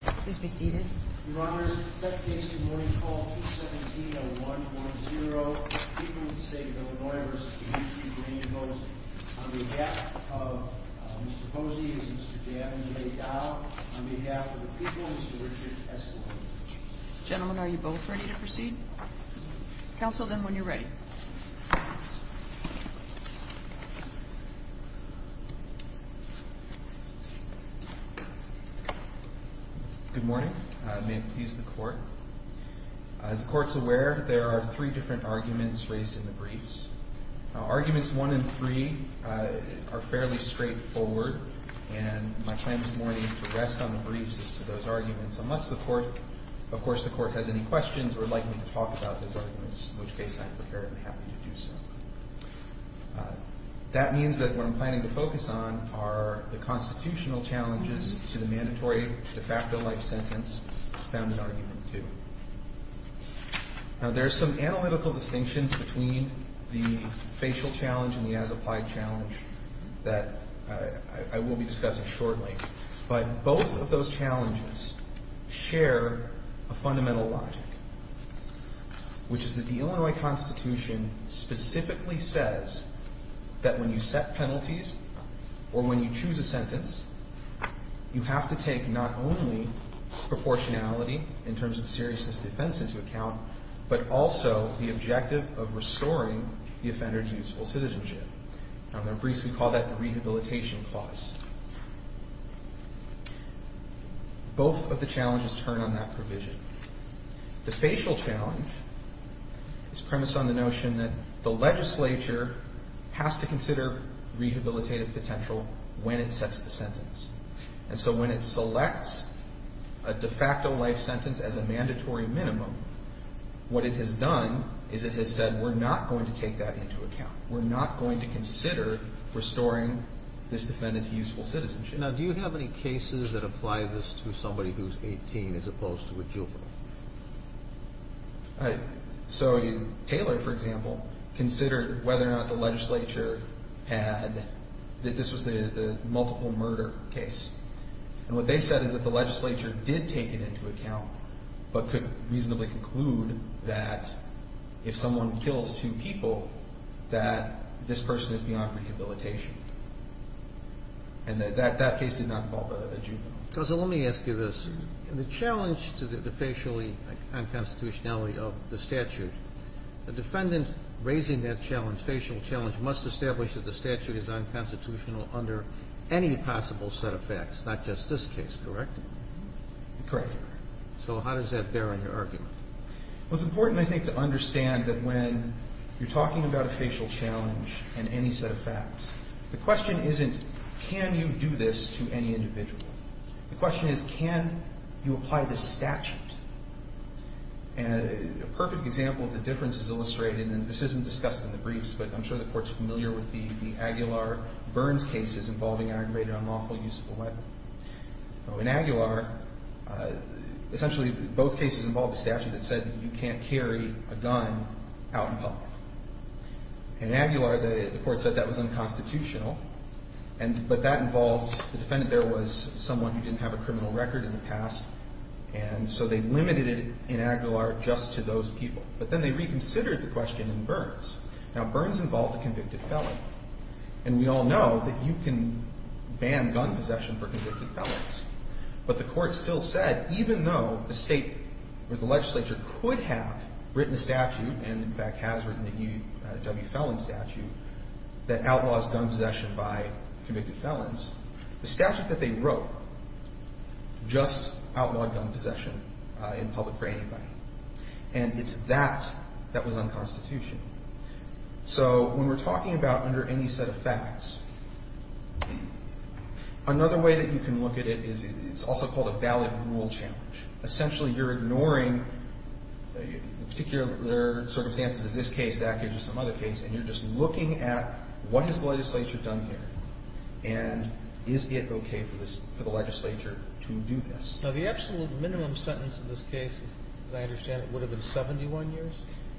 On behalf of Mr. Hosey and Mr. Daniel A. Dowd, on behalf of the people, Mr. Richard S. Lewin. Gentlemen, are you both ready to proceed? Counsel, then, when you're ready. Good morning. May it please the Court. As the Court is aware, there are three different arguments raised in the briefs. Arguments 1 and 3 are fairly straightforward, and my plan this morning is to rest on the briefs as to those arguments. Unless, of course, the Court has any questions or would like me to talk about those arguments, in which case I am prepared and happy to do so. That means that what I'm planning to focus on are the constitutional challenges to the mandatory de facto life sentence found in argument 2. Now, there are some analytical distinctions between the facial challenge and the as-applied challenge that I will be discussing shortly. But both of those challenges share a fundamental logic, which is that the Illinois Constitution specifically says that when you set penalties or when you choose a sentence, you have to take not only proportionality in terms of seriousness of defense into account, but also the objective of restoring the offender to useful citizenship. Now, in the briefs, we call that the rehabilitation clause. Both of the challenges turn on that provision. The facial challenge is premised on the notion that the legislature has to consider rehabilitative potential when it sets the sentence. And so when it selects a de facto life sentence as a mandatory minimum, what it has done is it has said, we're not going to take that into account. We're not going to consider restoring this defendant to useful citizenship. Now, do you have any cases that apply this to somebody who's 18 as opposed to a juvenile? So Taylor, for example, considered whether or not the legislature had – this was the multiple murder case. And what they said is that the legislature did take it into account, but could reasonably conclude that if someone kills two people, that this person is beyond rehabilitation. And that case did not involve a juvenile. So let me ask you this. The challenge to the facially unconstitutionality of the statute, the defendant raising that challenge, must establish that the statute is unconstitutional under any possible set of facts, not just this case, correct? Correct. So how does that bear on your argument? Well, it's important, I think, to understand that when you're talking about a facial challenge and any set of facts, the question isn't, can you do this to any individual? The question is, can you apply the statute? And a perfect example of the difference is illustrated, and this isn't discussed in the briefs, but I'm sure the Court's familiar with the Aguilar-Burns cases involving aggravated unlawful use of a weapon. In Aguilar, essentially both cases involved a statute that said you can't carry a gun out in public. In Aguilar, the Court said that was unconstitutional. But that involved – the defendant there was someone who didn't have a criminal record in the past, and so they limited it in Aguilar just to those people. But then they reconsidered the question in Burns. Now, Burns involved a convicted felon, and we all know that you can ban gun possession for convicted felons. But the Court still said, even though the State or the legislature could have written a statute, and in fact has written a W felon statute that outlaws gun possession by convicted felons, the statute that they wrote just outlawed gun possession in public for anybody. And it's that that was unconstitutional. So when we're talking about under any set of facts, another way that you can look at it is it's also called a valid rule challenge. Essentially, you're ignoring the particular circumstances of this case, that case, or some other case, and you're just looking at what has the legislature done here. And is it okay for this – for the legislature to do this? Now, the absolute minimum sentence in this case, as I understand it, would have been 71 years?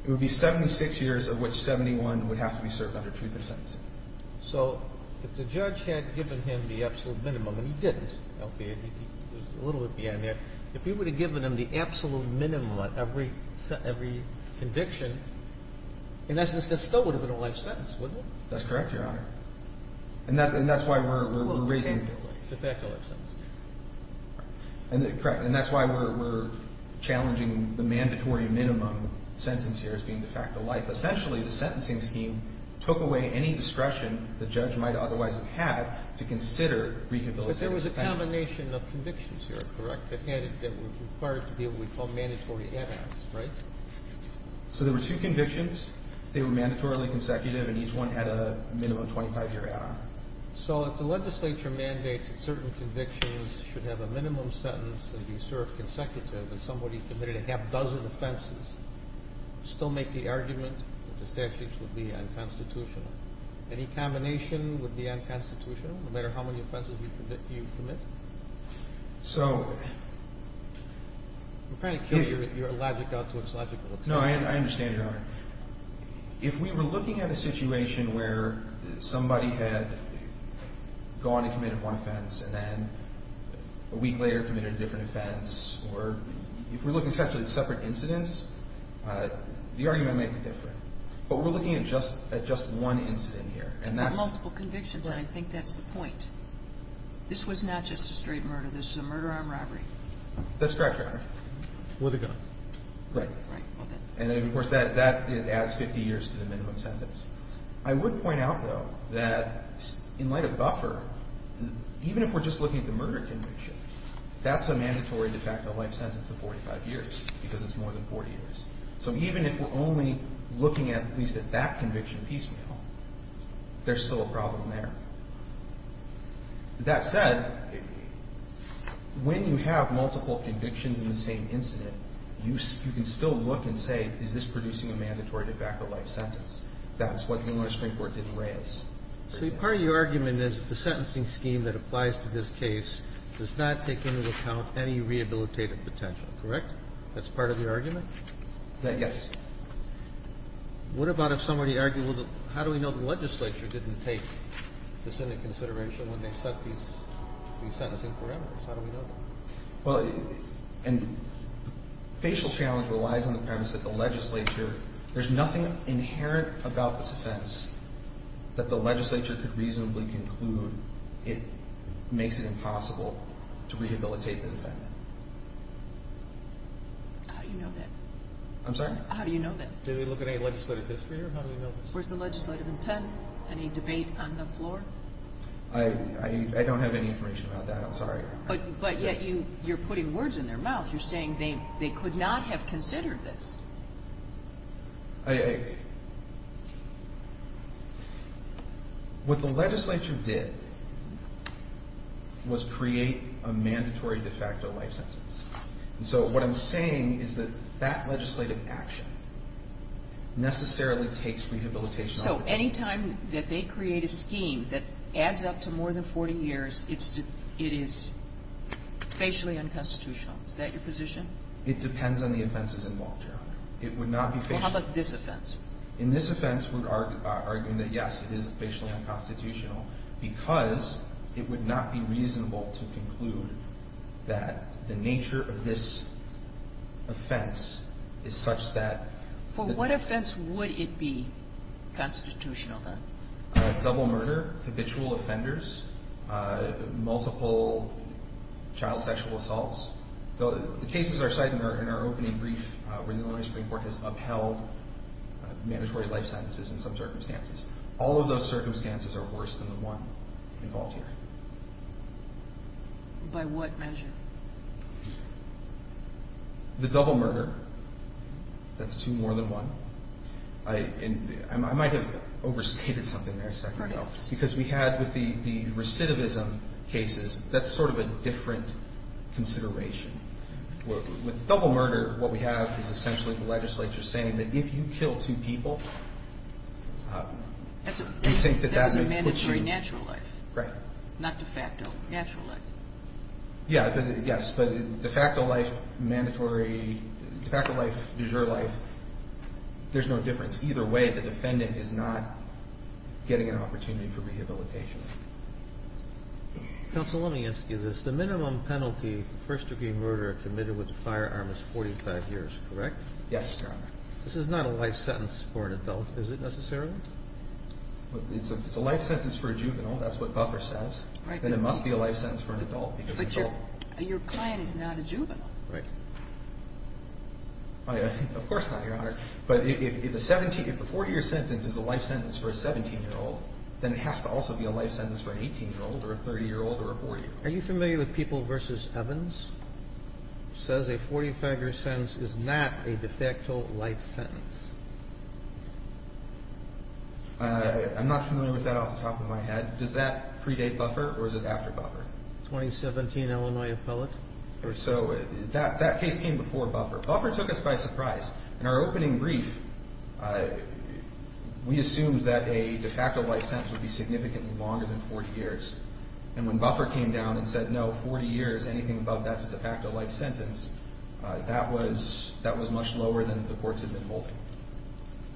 It would be 76 years, of which 71 would have to be served under truth in sentencing. So if the judge had given him the absolute minimum, and he didn't. Okay. He was a little bit behind there. If he would have given him the absolute minimum on every conviction, in essence, that still would have been a life sentence, wouldn't it? That's correct, Your Honor. And that's – and that's why we're raising – Well, de facto life. De facto life sentence. Correct. And that's why we're challenging the mandatory minimum sentence here as being de facto life. Essentially, the sentencing scheme took away any discretion the judge might otherwise have had to consider rehabilitating the family. But there was a combination of convictions here, correct, that had – that were required to be what we call mandatory ad acts, right? So there were two convictions. They were mandatorily consecutive, and each one had a minimum 25-year ad act. So if the legislature mandates that certain convictions should have a minimum sentence and be served consecutive and somebody committed a half-dozen offenses, still make the argument that the statutes would be unconstitutional? Any combination would be unconstitutional, no matter how many offenses you commit? So – I'm trying to carry your logic out to its logical extent. No, I understand, Your Honor. If we were looking at a situation where somebody had gone and committed one offense and then a week later committed a different offense, or if we're looking essentially at separate incidents, the argument might be different. But we're looking at just one incident here, and that's – Multiple convictions, and I think that's the point. This was not just a straight murder. This was a murder-armed robbery. That's correct, Your Honor. With a gun. Right. And, of course, that adds 50 years to the minimum sentence. I would point out, though, that in light of buffer, even if we're just looking at the murder conviction, that's a mandatory de facto life sentence of 45 years because it's more than 40 years. So even if we're only looking at at least at that conviction piecemeal, there's still a problem there. That said, when you have multiple convictions in the same incident, you can still look and say, is this producing a mandatory de facto life sentence? That's what the Illinois Supreme Court did in Reyes. So part of your argument is the sentencing scheme that applies to this case does not take into account any rehabilitative potential, correct? That's part of your argument? Yes. What about if somebody argued, how do we know the legislature didn't take this into consideration when they set these sentencing parameters? How do we know that? Well, the facial challenge relies on the premise that the legislature, there's nothing inherent about this offense that the legislature could reasonably conclude makes it impossible to rehabilitate the defendant. How do you know that? I'm sorry? How do you know that? Did they look at any legislative history or how do they know this? Where's the legislative intent? Any debate on the floor? I don't have any information about that. I'm sorry. But yet you're putting words in their mouth. You're saying they could not have considered this. What the legislature did was create a mandatory de facto life sentence. And so what I'm saying is that that legislative action necessarily takes rehabilitation off the table. So any time that they create a scheme that adds up to more than 40 years, it is facially unconstitutional. Is that your position? It depends on the offenses involved, Your Honor. It would not be facial. Well, how about this offense? In this offense, we're arguing that, yes, it is facially unconstitutional because it would not be reasonable to conclude that the nature of this offense is such that the ---- For what offense would it be constitutional, then? Double murder, habitual offenders, multiple child sexual assaults. The cases are cited in our opening brief where the Illinois Supreme Court has upheld mandatory life sentences in some circumstances. All of those circumstances are worse than the one involved here. By what measure? The double murder. That's two more than one. I might have overstated something there a second ago because we had with the recidivism cases, that's sort of a different consideration. With double murder, what we have is essentially the legislature saying that if you kill two people, you think that that would put you ---- That's a mandatory natural life. Right. Not de facto, natural life. Yes, but de facto life, mandatory, de facto life, du jour life, there's no difference. Either way, the defendant is not getting an opportunity for rehabilitation. Counsel, let me ask you this. The minimum penalty for first-degree murder committed with a firearm is 45 years, correct? Yes, Your Honor. This is not a life sentence for an adult, is it necessarily? It's a life sentence for a juvenile. That's what Buffer says. Then it must be a life sentence for an adult. But your client is not a juvenile. Right. Of course not, Your Honor. But if a 40-year sentence is a life sentence for a 17-year-old, then it has to also be a life sentence for an 18-year-old or a 30-year-old or a 40-year-old. Are you familiar with People v. Evans? It says a 45-year sentence is not a de facto life sentence. I'm not familiar with that off the top of my head. Does that predate Buffer or is it after Buffer? 2017 Illinois appellate. So that case came before Buffer. Buffer took us by surprise. In our opening brief, we assumed that a de facto life sentence would be significantly longer than 40 years. And when Buffer came down and said, no, 40 years, anything above that is a de facto life sentence, that was much lower than the courts had been holding.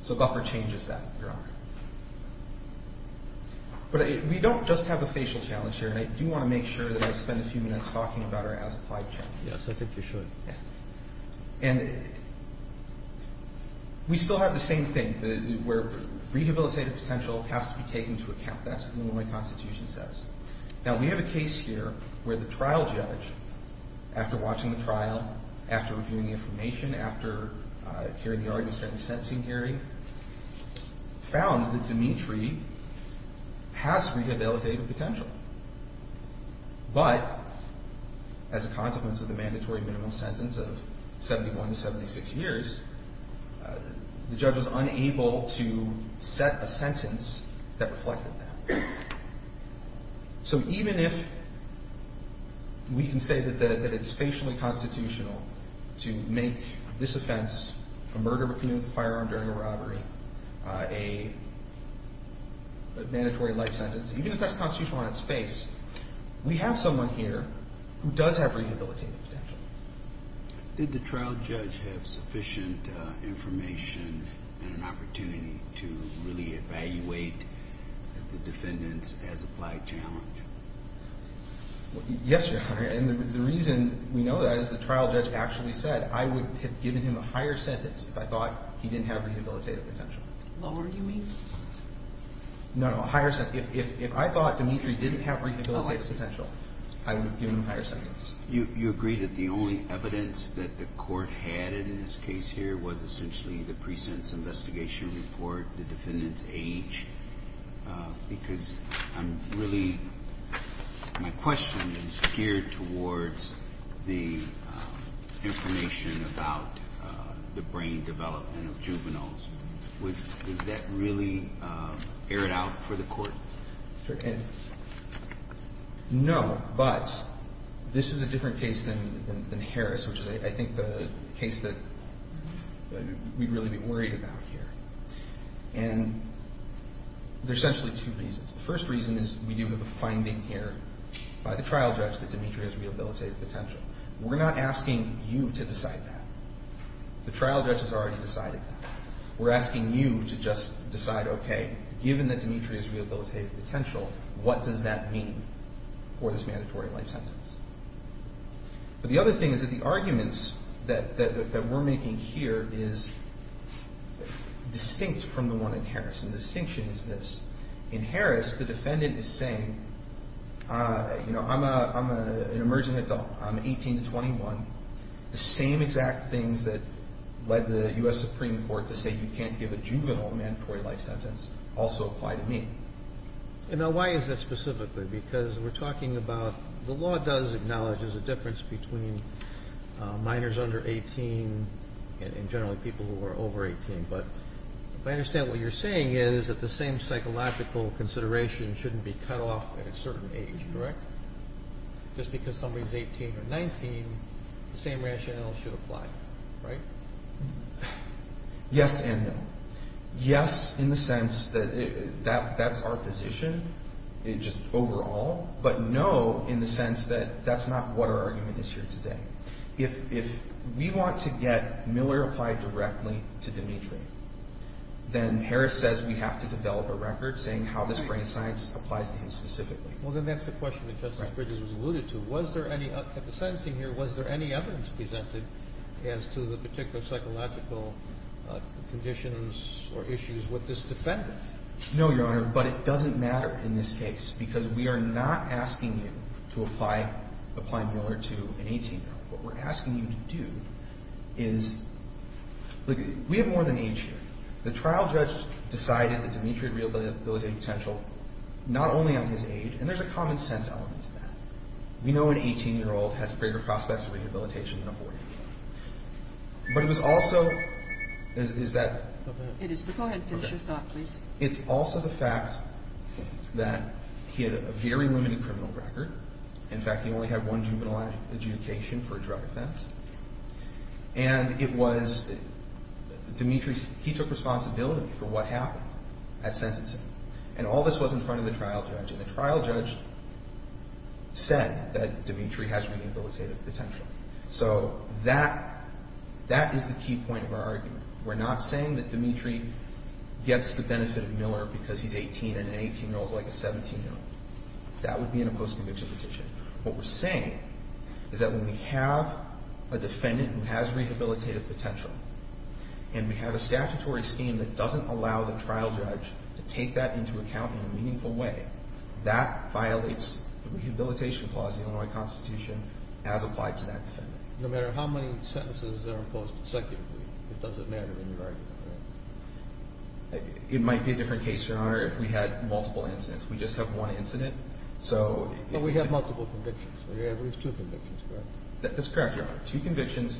So Buffer changes that, Your Honor. But we don't just have a facial challenge here, and I do want to make sure that I spend a few minutes talking about our as-applied challenge. Yes, I think you should. And we still have the same thing where rehabilitative potential has to be taken into account. That's what the Illinois Constitution says. Now, we have a case here where the trial judge, after watching the trial, after reviewing the information, after hearing the arguments, starting sensing hearing, found that Dimitri has rehabilitative potential. But as a consequence of the mandatory minimum sentence of 71 to 76 years, the judge was unable to set a sentence that reflected that. So even if we can say that it's facially constitutional to make this offense, a murder with a firearm during a robbery, a mandatory life sentence, even if that's constitutional on its face, we have someone here who does have rehabilitative potential. Did the trial judge have sufficient information and an opportunity to really evaluate the defendant's as-applied challenge? Yes, Your Honor. And the reason we know that is the trial judge actually said, I would have given him a higher sentence if I thought he didn't have rehabilitative potential. Lower, you mean? No, no, a higher sentence. If I thought Dimitri didn't have rehabilitative potential, I would have given him a higher sentence. You agree that the only evidence that the court had in this case here was essentially the precinct's investigation report, the defendant's age? Because I'm really, my question is geared towards the information about the brain development of juveniles. Was that really aired out for the court? No, but this is a different case than Harris, which is I think the case that we'd really be worried about here. And there's essentially two reasons. The first reason is we do have a finding here by the trial judge that Dimitri has rehabilitative potential. We're not asking you to decide that. The trial judge has already decided that. We're asking you to just decide, okay, given that Dimitri has rehabilitative potential, what does that mean for this mandatory life sentence? But the other thing is that the arguments that we're making here is distinct from the one in Harris. And the distinction is this. In Harris, the defendant is saying, you know, I'm an emerging adult. I'm 18 to 21. The same exact things that led the U.S. Supreme Court to say you can't give a juvenile mandatory life sentence also apply to me. And now why is that specifically? Because we're talking about the law does acknowledge there's a difference between minors under 18 and generally people who are over 18. But if I understand what you're saying is that the same psychological consideration shouldn't be cut off at a certain age, correct? Just because somebody's 18 or 19, the same rationale should apply, right? Yes and no. Yes in the sense that that's our position, just overall. But no in the sense that that's not what our argument is here today. If we want to get Miller applied directly to Dimitri, then Harris says we have to develop a record saying how this brain science applies to him specifically. Well, then that's the question that Justice Bridges alluded to. Was there any – at the sentencing here, was there any evidence presented as to the particular psychological conditions or issues with this defendant? No, Your Honor, but it doesn't matter in this case because we are not asking you to apply Miller to an 18-year-old. What we're asking you to do is – look, we have more than age here. The trial judge decided that Dimitri had rehabilitative potential not only on his age, and there's a common sense element to that. We know an 18-year-old has greater prospects of rehabilitation than a 40-year-old. But it was also – is that – It is. Go ahead and finish your thought, please. It's also the fact that he had a very limiting criminal record. In fact, he only had one juvenile adjudication for a drug offense. And it was Dimitri – he took responsibility for what happened at sentencing. And all this was in front of the trial judge. And the trial judge said that Dimitri has rehabilitative potential. So that – that is the key point of our argument. We're not saying that Dimitri gets the benefit of Miller because he's 18 and an 18-year-old is like a 17-year-old. That would be in a post-conviction petition. What we're saying is that when we have a defendant who has rehabilitative potential and we have a statutory scheme that doesn't allow the trial judge to take that into account in a meaningful way, that violates the Rehabilitation Clause of the Illinois Constitution as applied to that defendant. No matter how many sentences are imposed consecutively, it doesn't matter in your argument, right? It might be a different case, Your Honor, if we had multiple incidents. We just have one incident. But we have multiple convictions. We have at least two convictions, correct? That's correct, Your Honor. Two convictions,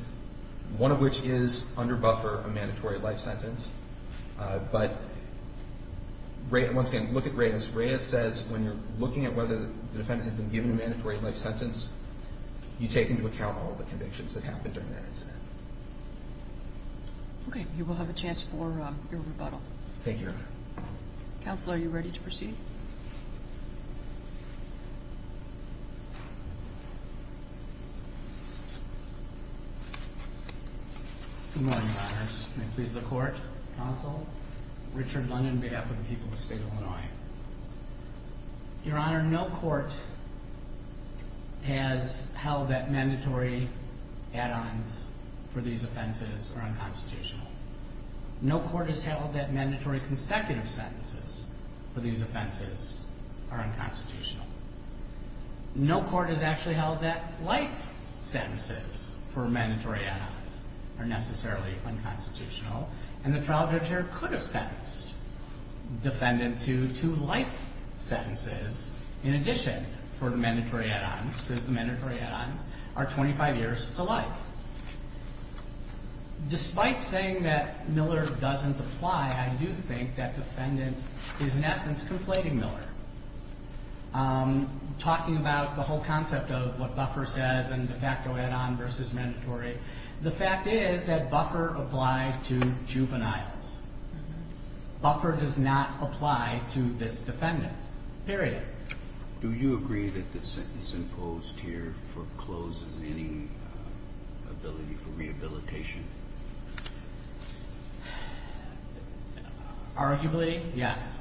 one of which is under buffer a mandatory life sentence. But once again, look at Reyes. Reyes says when you're looking at whether the defendant has been given a mandatory life sentence, you take into account all the convictions that happened during that incident. Okay. You will have a chance for your rebuttal. Thank you, Your Honor. Counsel, are you ready to proceed? Good morning, Your Honors. May it please the Court, Counsel Richard London, behalf of the people of the State of Illinois. Your Honor, no court has held that mandatory add-ons for these offenses are unconstitutional. No court has held that mandatory consecutive sentences for these offenses are unconstitutional. No court has actually held that life sentences for mandatory add-ons are necessarily unconstitutional. And the trial judge here could have sentenced defendant to two life sentences in addition for mandatory add-ons because the mandatory add-ons are 25 years to life. Despite saying that Miller doesn't apply, I do think that defendant is, in essence, conflating Miller, talking about the whole concept of what buffer says and de facto add-on versus mandatory. The fact is that buffer applies to juveniles. Buffer does not apply to this defendant, period. Do you agree that the sentence imposed here forecloses any ability for rehabilitation? Arguably, yes.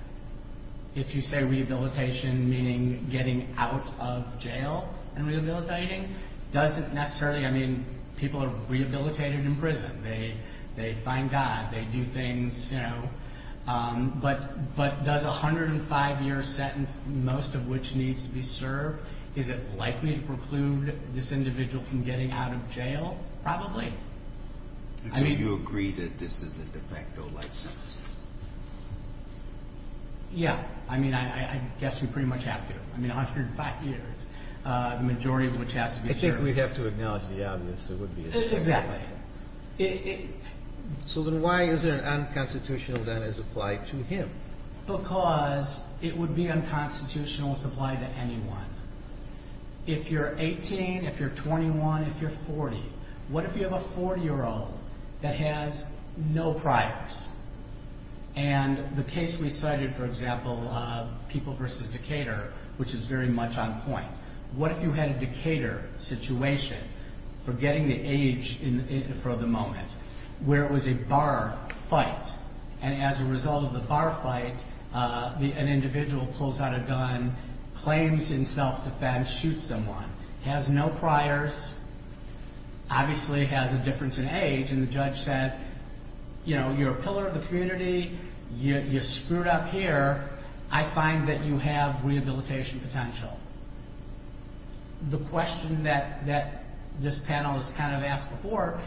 If you say rehabilitation, meaning getting out of jail and rehabilitating, doesn't necessarily. I mean, people are rehabilitated in prison. They find God. They do things, you know. But does a 105-year sentence, most of which needs to be served, is it likely to preclude this individual from getting out of jail? Probably. Do you agree that this is a de facto life sentence? Yeah. I mean, I guess we pretty much have to. I mean, 105 years, the majority of which has to be served. I think we have to acknowledge the obvious. It would be a de facto life sentence. Exactly. So then why is there an unconstitutional that is applied to him? Because it would be unconstitutional if it's applied to anyone. If you're 18, if you're 21, if you're 40, what if you have a 40-year-old that has no priors? And the case we cited, for example, people versus Decatur, which is very much on point, what if you had a Decatur situation, forgetting the age for the moment, where it was a bar fight, and as a result of the bar fight, an individual pulls out a gun, claims in self-defense, shoots someone, has no priors, obviously has a difference in age, and the judge says, you know, you're a pillar of the community, you screwed up here, I find that you have rehabilitation potential. The question that this panel has kind of asked before,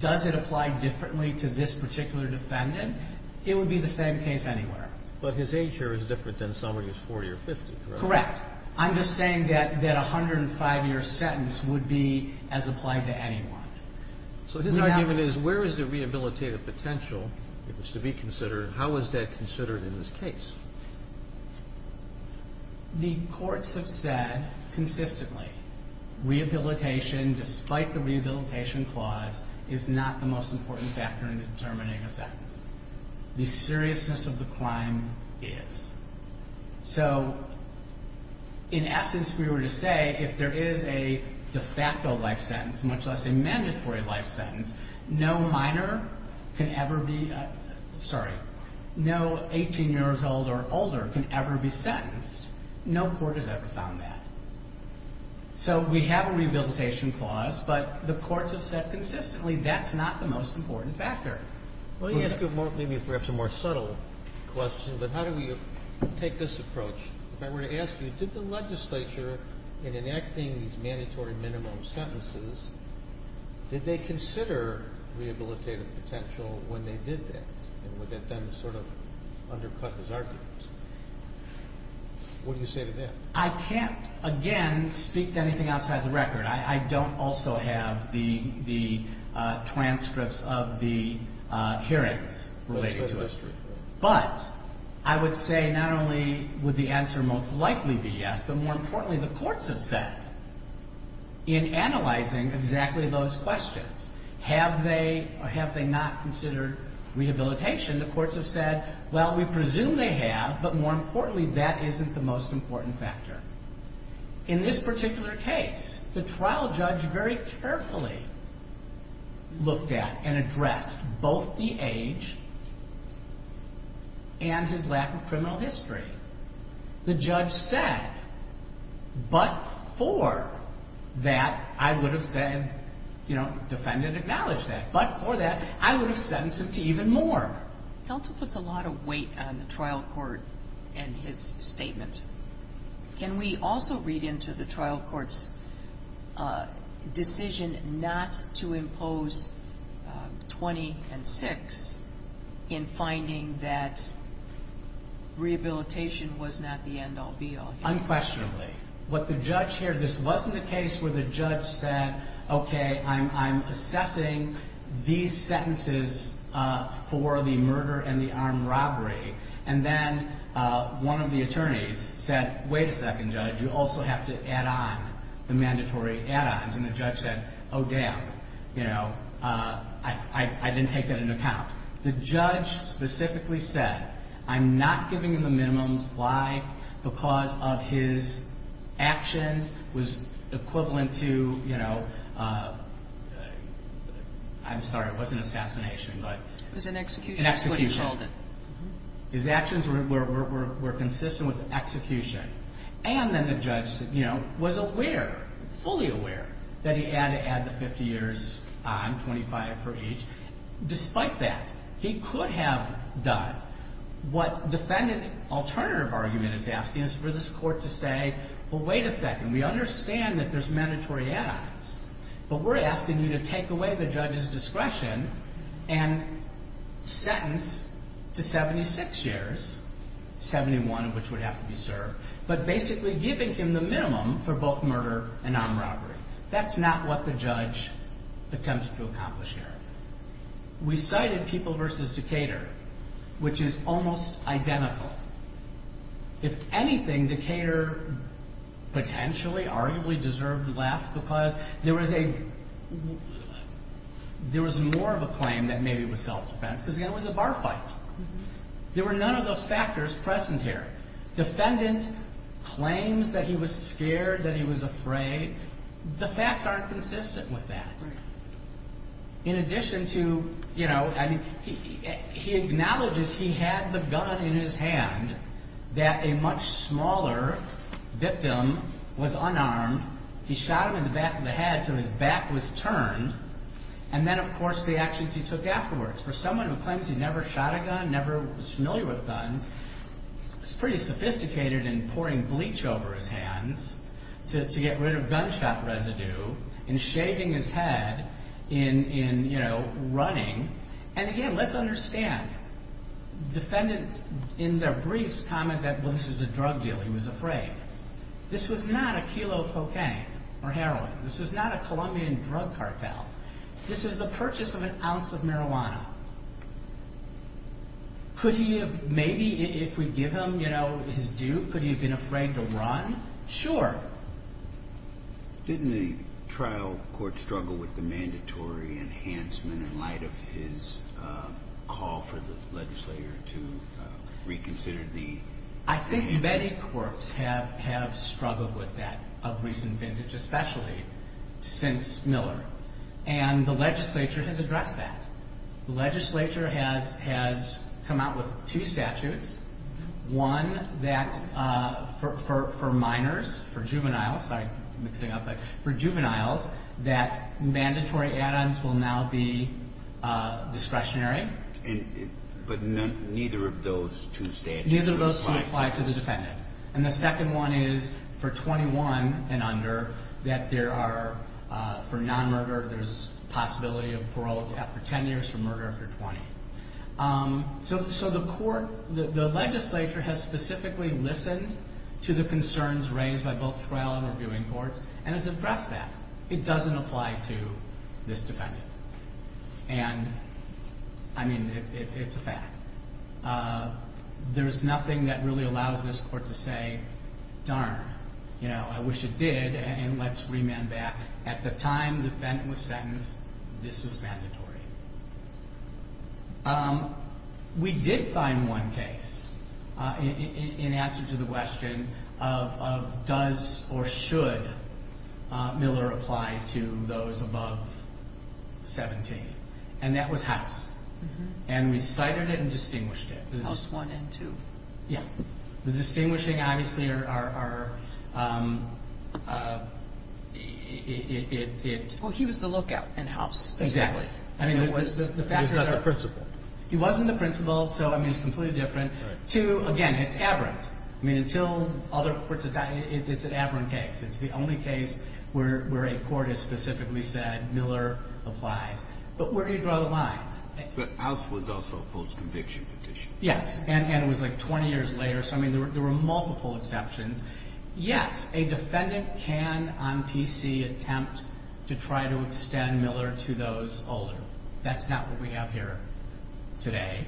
does it apply differently to this particular defendant? It would be the same case anywhere. But his age here is different than someone who's 40 or 50, correct? Correct. I'm just saying that a 105-year sentence would be as applied to anyone. So his argument is, where is the rehabilitative potential? It was to be considered. How is that considered in this case? The courts have said consistently, rehabilitation, despite the rehabilitation clause, is not the most important factor in determining a sentence. The seriousness of the crime is. So in essence, we were to say, if there is a de facto life sentence, much less a mandatory life sentence, no minor can ever be ‑‑ sorry, no 18 years old or older can ever be sentenced. No court has ever found that. So we have a rehabilitation clause, but the courts have said consistently, that's not the most important factor. Let me ask you maybe perhaps a more subtle question, but how do we take this approach? If I were to ask you, did the legislature, in enacting these mandatory minimum sentences, did they consider rehabilitative potential when they did that? And would that then sort of undercut his argument? What do you say to that? I can't, again, speak to anything outside the record. I don't also have the transcripts of the hearings related to it. But I would say not only would the answer most likely be yes, but more importantly, the courts have said, in analyzing exactly those questions, have they or have they not considered rehabilitation, the courts have said, well, we presume they have, but more importantly, that isn't the most important factor. In this particular case, the trial judge very carefully looked at and addressed both the age and his lack of criminal history. The judge said, but for that, I would have said, you know, defend and acknowledge that. But for that, I would have sentenced him to even more. Counsel puts a lot of weight on the trial court and his statement. Can we also read into the trial court's decision not to impose 20 and 6 in finding that rehabilitation was not the end-all, be-all here? Unquestionably. What the judge here, this wasn't a case where the judge said, okay, I'm assessing these sentences for the murder and the armed robbery. And then one of the attorneys said, wait a second, Judge, you also have to add on the mandatory add-ons. And the judge said, oh, damn, you know, I didn't take that into account. The judge specifically said, I'm not giving him the minimums. Why? Because of his actions was equivalent to, you know, I'm sorry, it wasn't assassination. It was an execution. His actions were consistent with execution. And then the judge, you know, was aware, fully aware that he had to add the 50 years on, 25 for each. Despite that, he could have done what defendant alternative argument is asking is for this court to say, well, wait a second, we understand that there's mandatory add-ons, but we're asking you to take away the judge's discretion and sentence to 76 years, 71 of which would have to be served, but basically giving him the minimum for both murder and armed robbery. That's not what the judge attempted to accomplish here. We cited People v. Decatur, which is almost identical. If anything, Decatur potentially, arguably, deserved less because there was a, there was more of a claim that maybe it was self-defense because, again, it was a bar fight. There were none of those factors present here. Defendant claims that he was scared, that he was afraid. The facts aren't consistent with that. In addition to, you know, I mean, he acknowledges he had the gun in his hand, that a much smaller victim was unarmed. He shot him in the back of the head, so his back was turned. And then, of course, the actions he took afterwards. For someone who claims he never shot a gun, never was familiar with guns, it's pretty sophisticated in pouring bleach over his hands to get rid of gunshot residue, in shaving his head, in, you know, running. And, again, let's understand. Defendant, in their briefs, commented that, well, this is a drug deal. He was afraid. This was not a kilo of cocaine or heroin. This was not a Colombian drug cartel. This is the purchase of an ounce of marijuana. Could he have maybe, if we give him, you know, his due, could he have been afraid to run? Sure. Didn't the trial court struggle with the mandatory enhancement in light of his call for the legislator to reconsider the enhancement? I think many courts have struggled with that of recent vintage, especially since Miller. And the legislature has addressed that. The legislature has come out with two statutes. One that for minors, for juveniles, sorry, mixing up. For juveniles, that mandatory add-ons will now be discretionary. But neither of those two statutes apply to the defendant. And the second one is for 21 and under that there are, for non-murder, there's possibility of parole after 10 years for murder after 20. So the court, the legislature, has specifically listened to the concerns raised by both trial and reviewing courts and has addressed that. It doesn't apply to this defendant. And, I mean, it's a fact. There's nothing that really allows this court to say, darn, you know, I wish it did and let's remand back. At the time the defendant was sentenced, this was mandatory. We did find one case in answer to the question of does or should Miller apply to those above 17. And that was House. And we cited it and distinguished it. House 1 and 2. The distinguishing, obviously, are it. Well, he was the lookout in House. Exactly. He was not the principal. He wasn't the principal, so, I mean, it's completely different. Two, again, it's aberrant. I mean, until other courts have done it, it's an aberrant case. It's the only case where a court has specifically said Miller applies. But where do you draw the line? But House was also a post-conviction petition. Yes, and it was, like, 20 years later. So, I mean, there were multiple exceptions. Yes, a defendant can on PC attempt to try to extend Miller to those older. That's not what we have here today.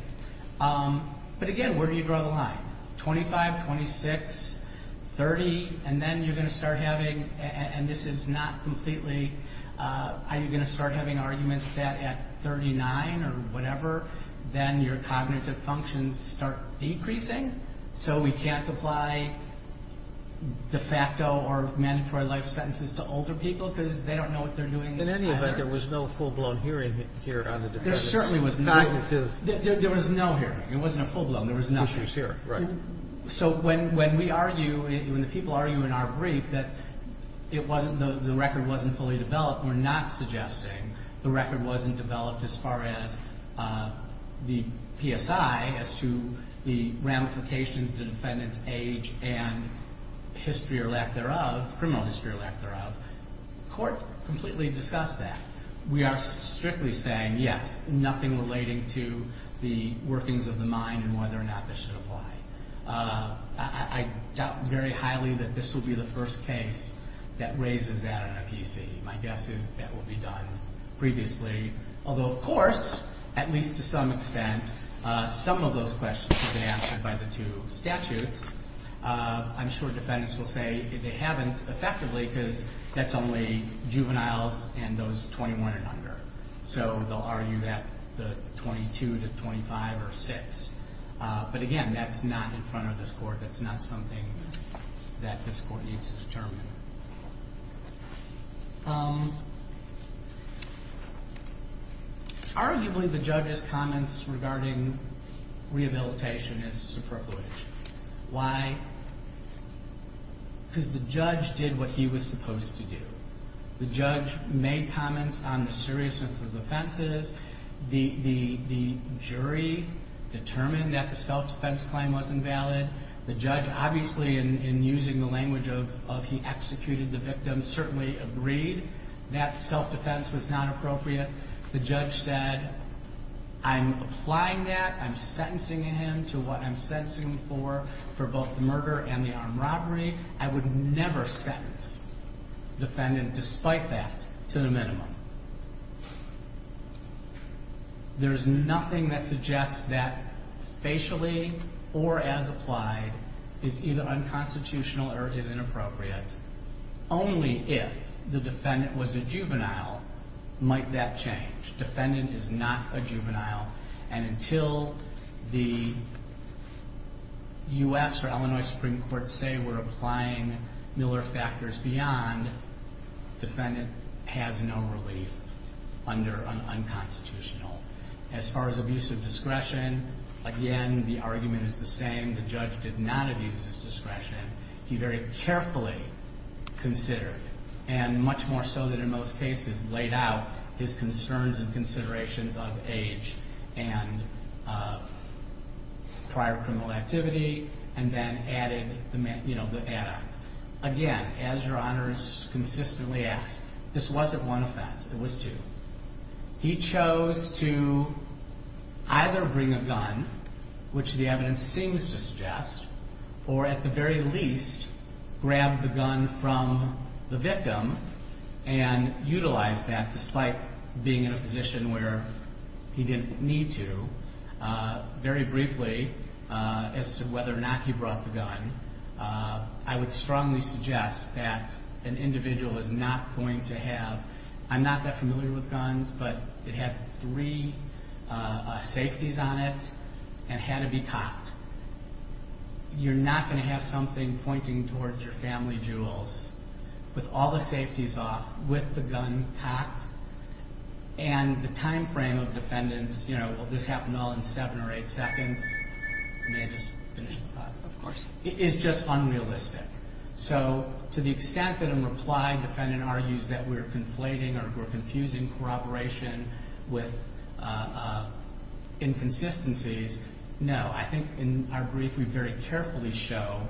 But, again, where do you draw the line? 25, 26, 30, and then you're going to start having, and this is not completely, are you going to start having arguments that at 39 or whatever, then your cognitive functions start decreasing, so we can't apply de facto or mandatory life sentences to older people because they don't know what they're doing. In any event, there was no full-blown hearing here on the defendant's cognitive. There certainly was not. There was no hearing. It wasn't a full-blown. There was no hearing. Which was here, right. So when we argue, when the people argue in our brief that it wasn't, the record wasn't fully developed, we're not suggesting the record wasn't developed as far as the PSI as to the ramifications of the defendant's age and history or lack thereof, criminal history or lack thereof. The court completely discussed that. We are strictly saying, yes, nothing relating to the workings of the mind and whether or not this should apply. I doubt very highly that this will be the first case that raises that in a PC. My guess is that will be done previously. Although, of course, at least to some extent, some of those questions have been answered by the two statutes. I'm sure defendants will say they haven't effectively because that's only juveniles and those 21 and under. So they'll argue that the 22 to 25 or 6. But again, that's not in front of this court. That's not something that this court needs to determine. Arguably, the judge's comments regarding rehabilitation is superfluous. Why? Because the judge did what he was supposed to do. The judge made comments on the seriousness of the offenses. The jury determined that the self-defense claim wasn't valid. The judge, obviously, in using the language of he executed the victim, certainly agreed that self-defense was not appropriate. The judge said, I'm applying that. I'm sentencing him to what I'm sentencing him for, for both the murder and the armed robbery. I would never sentence a defendant despite that to the minimum. There's nothing that suggests that facially or as applied is either unconstitutional or is inappropriate. Only if the defendant was a juvenile might that change. Defendant is not a juvenile. Until the U.S. or Illinois Supreme Court say we're applying Miller factors beyond, defendant has no relief under an unconstitutional. As far as abuse of discretion, again, the argument is the same. The judge did not abuse his discretion. He very carefully considered, and much more so than in most cases, laid out his concerns and considerations of age and prior criminal activity and then added the add-ons. Again, as your honors consistently ask, this wasn't one offense. It was two. He chose to either bring a gun, which the evidence seems to suggest, or at the very least grab the gun from the victim and utilize that despite being in a position where he didn't need to. Very briefly, as to whether or not he brought the gun, I would strongly suggest that an individual is not going to have, I'm not that familiar with guns, but it had three safeties on it and had to be cocked. You're not going to have something pointing towards your family jewels with all the safeties off, with the gun cocked, and the time frame of defendants, you know, will this happen all in seven or eight seconds, may I just finish the thought. Of course. It is just unrealistic. So to the extent that in reply defendant argues that we're conflating or we're confusing corroboration with inconsistencies, no. I think in our brief we very carefully show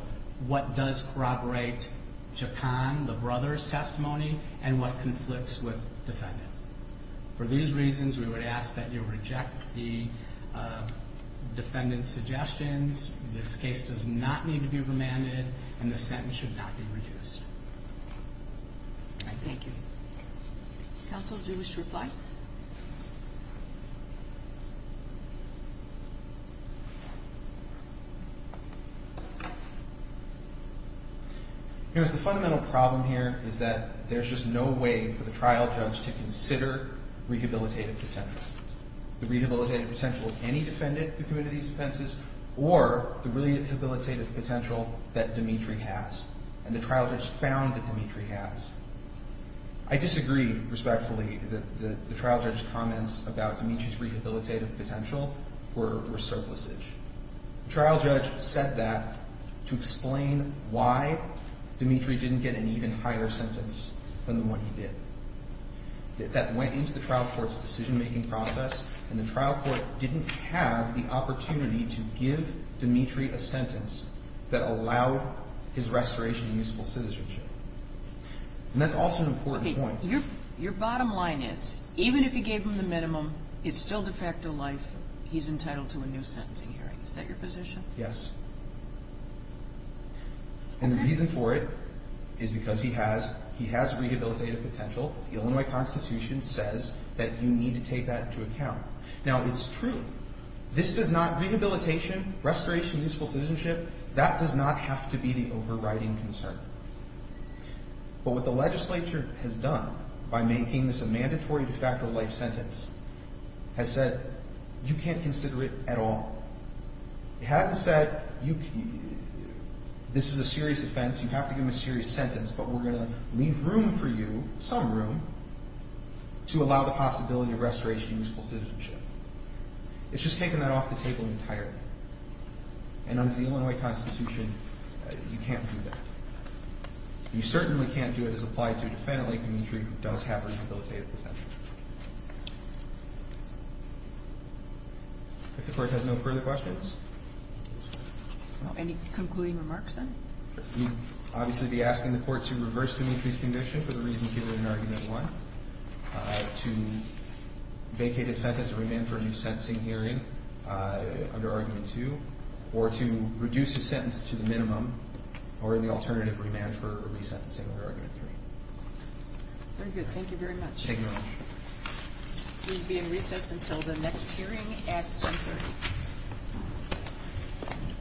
what does corroborate Chacon, the brother's testimony, and what conflicts with defendant. For these reasons, we would ask that you reject the defendant's suggestions. This case does not need to be remanded, and the sentence should not be reduced. Thank you. Counsel, do you wish to reply? The fundamental problem here is that there's just no way for the trial judge to consider rehabilitative potential. The rehabilitative potential of any defendant who committed these offenses or the rehabilitative potential that Dimitri has, and the trial judge found that Dimitri has. I disagree respectfully that the trial judge's comments about Dimitri's rehabilitative potential were surplusage. The trial judge said that to explain why Dimitri didn't get an even higher sentence than the one he did. That went into the trial court's decision-making process, and the trial court didn't have the opportunity to give Dimitri a sentence that allowed his restoration of useful citizenship. That's also an important point. Your bottom line is, even if you gave him the minimum, it's still de facto life. He's entitled to a new sentencing hearing. Is that your position? Yes. And the reason for it is because he has rehabilitative potential. The Illinois Constitution says that you need to take that into account. Now, it's true. Rehabilitation, restoration of useful citizenship, that does not have to be the overriding concern. But what the legislature has done by making this a mandatory de facto life sentence has said you can't consider it at all. It hasn't said this is a serious offense, you have to give him a serious sentence, but we're going to leave room for you, some room, to allow the possibility of restoration of useful citizenship. It's just taken that off the table entirely. And under the Illinois Constitution, you can't do that. You certainly can't do it as applied to a defendant like Dimitri, who does have rehabilitative potential. If the Court has no further questions? No. Any concluding remarks, then? We'd obviously be asking the Court to reverse Dimitri's conviction for the reasons given in Argument 1, to vacate his sentence and remand for a new sentencing hearing under Argument 2, or to reduce his sentence to the minimum or the alternative remand for resentencing under Argument 3. Very good. Thank you very much. Thank you all. We'll be in recess until the next hearing at 10.30.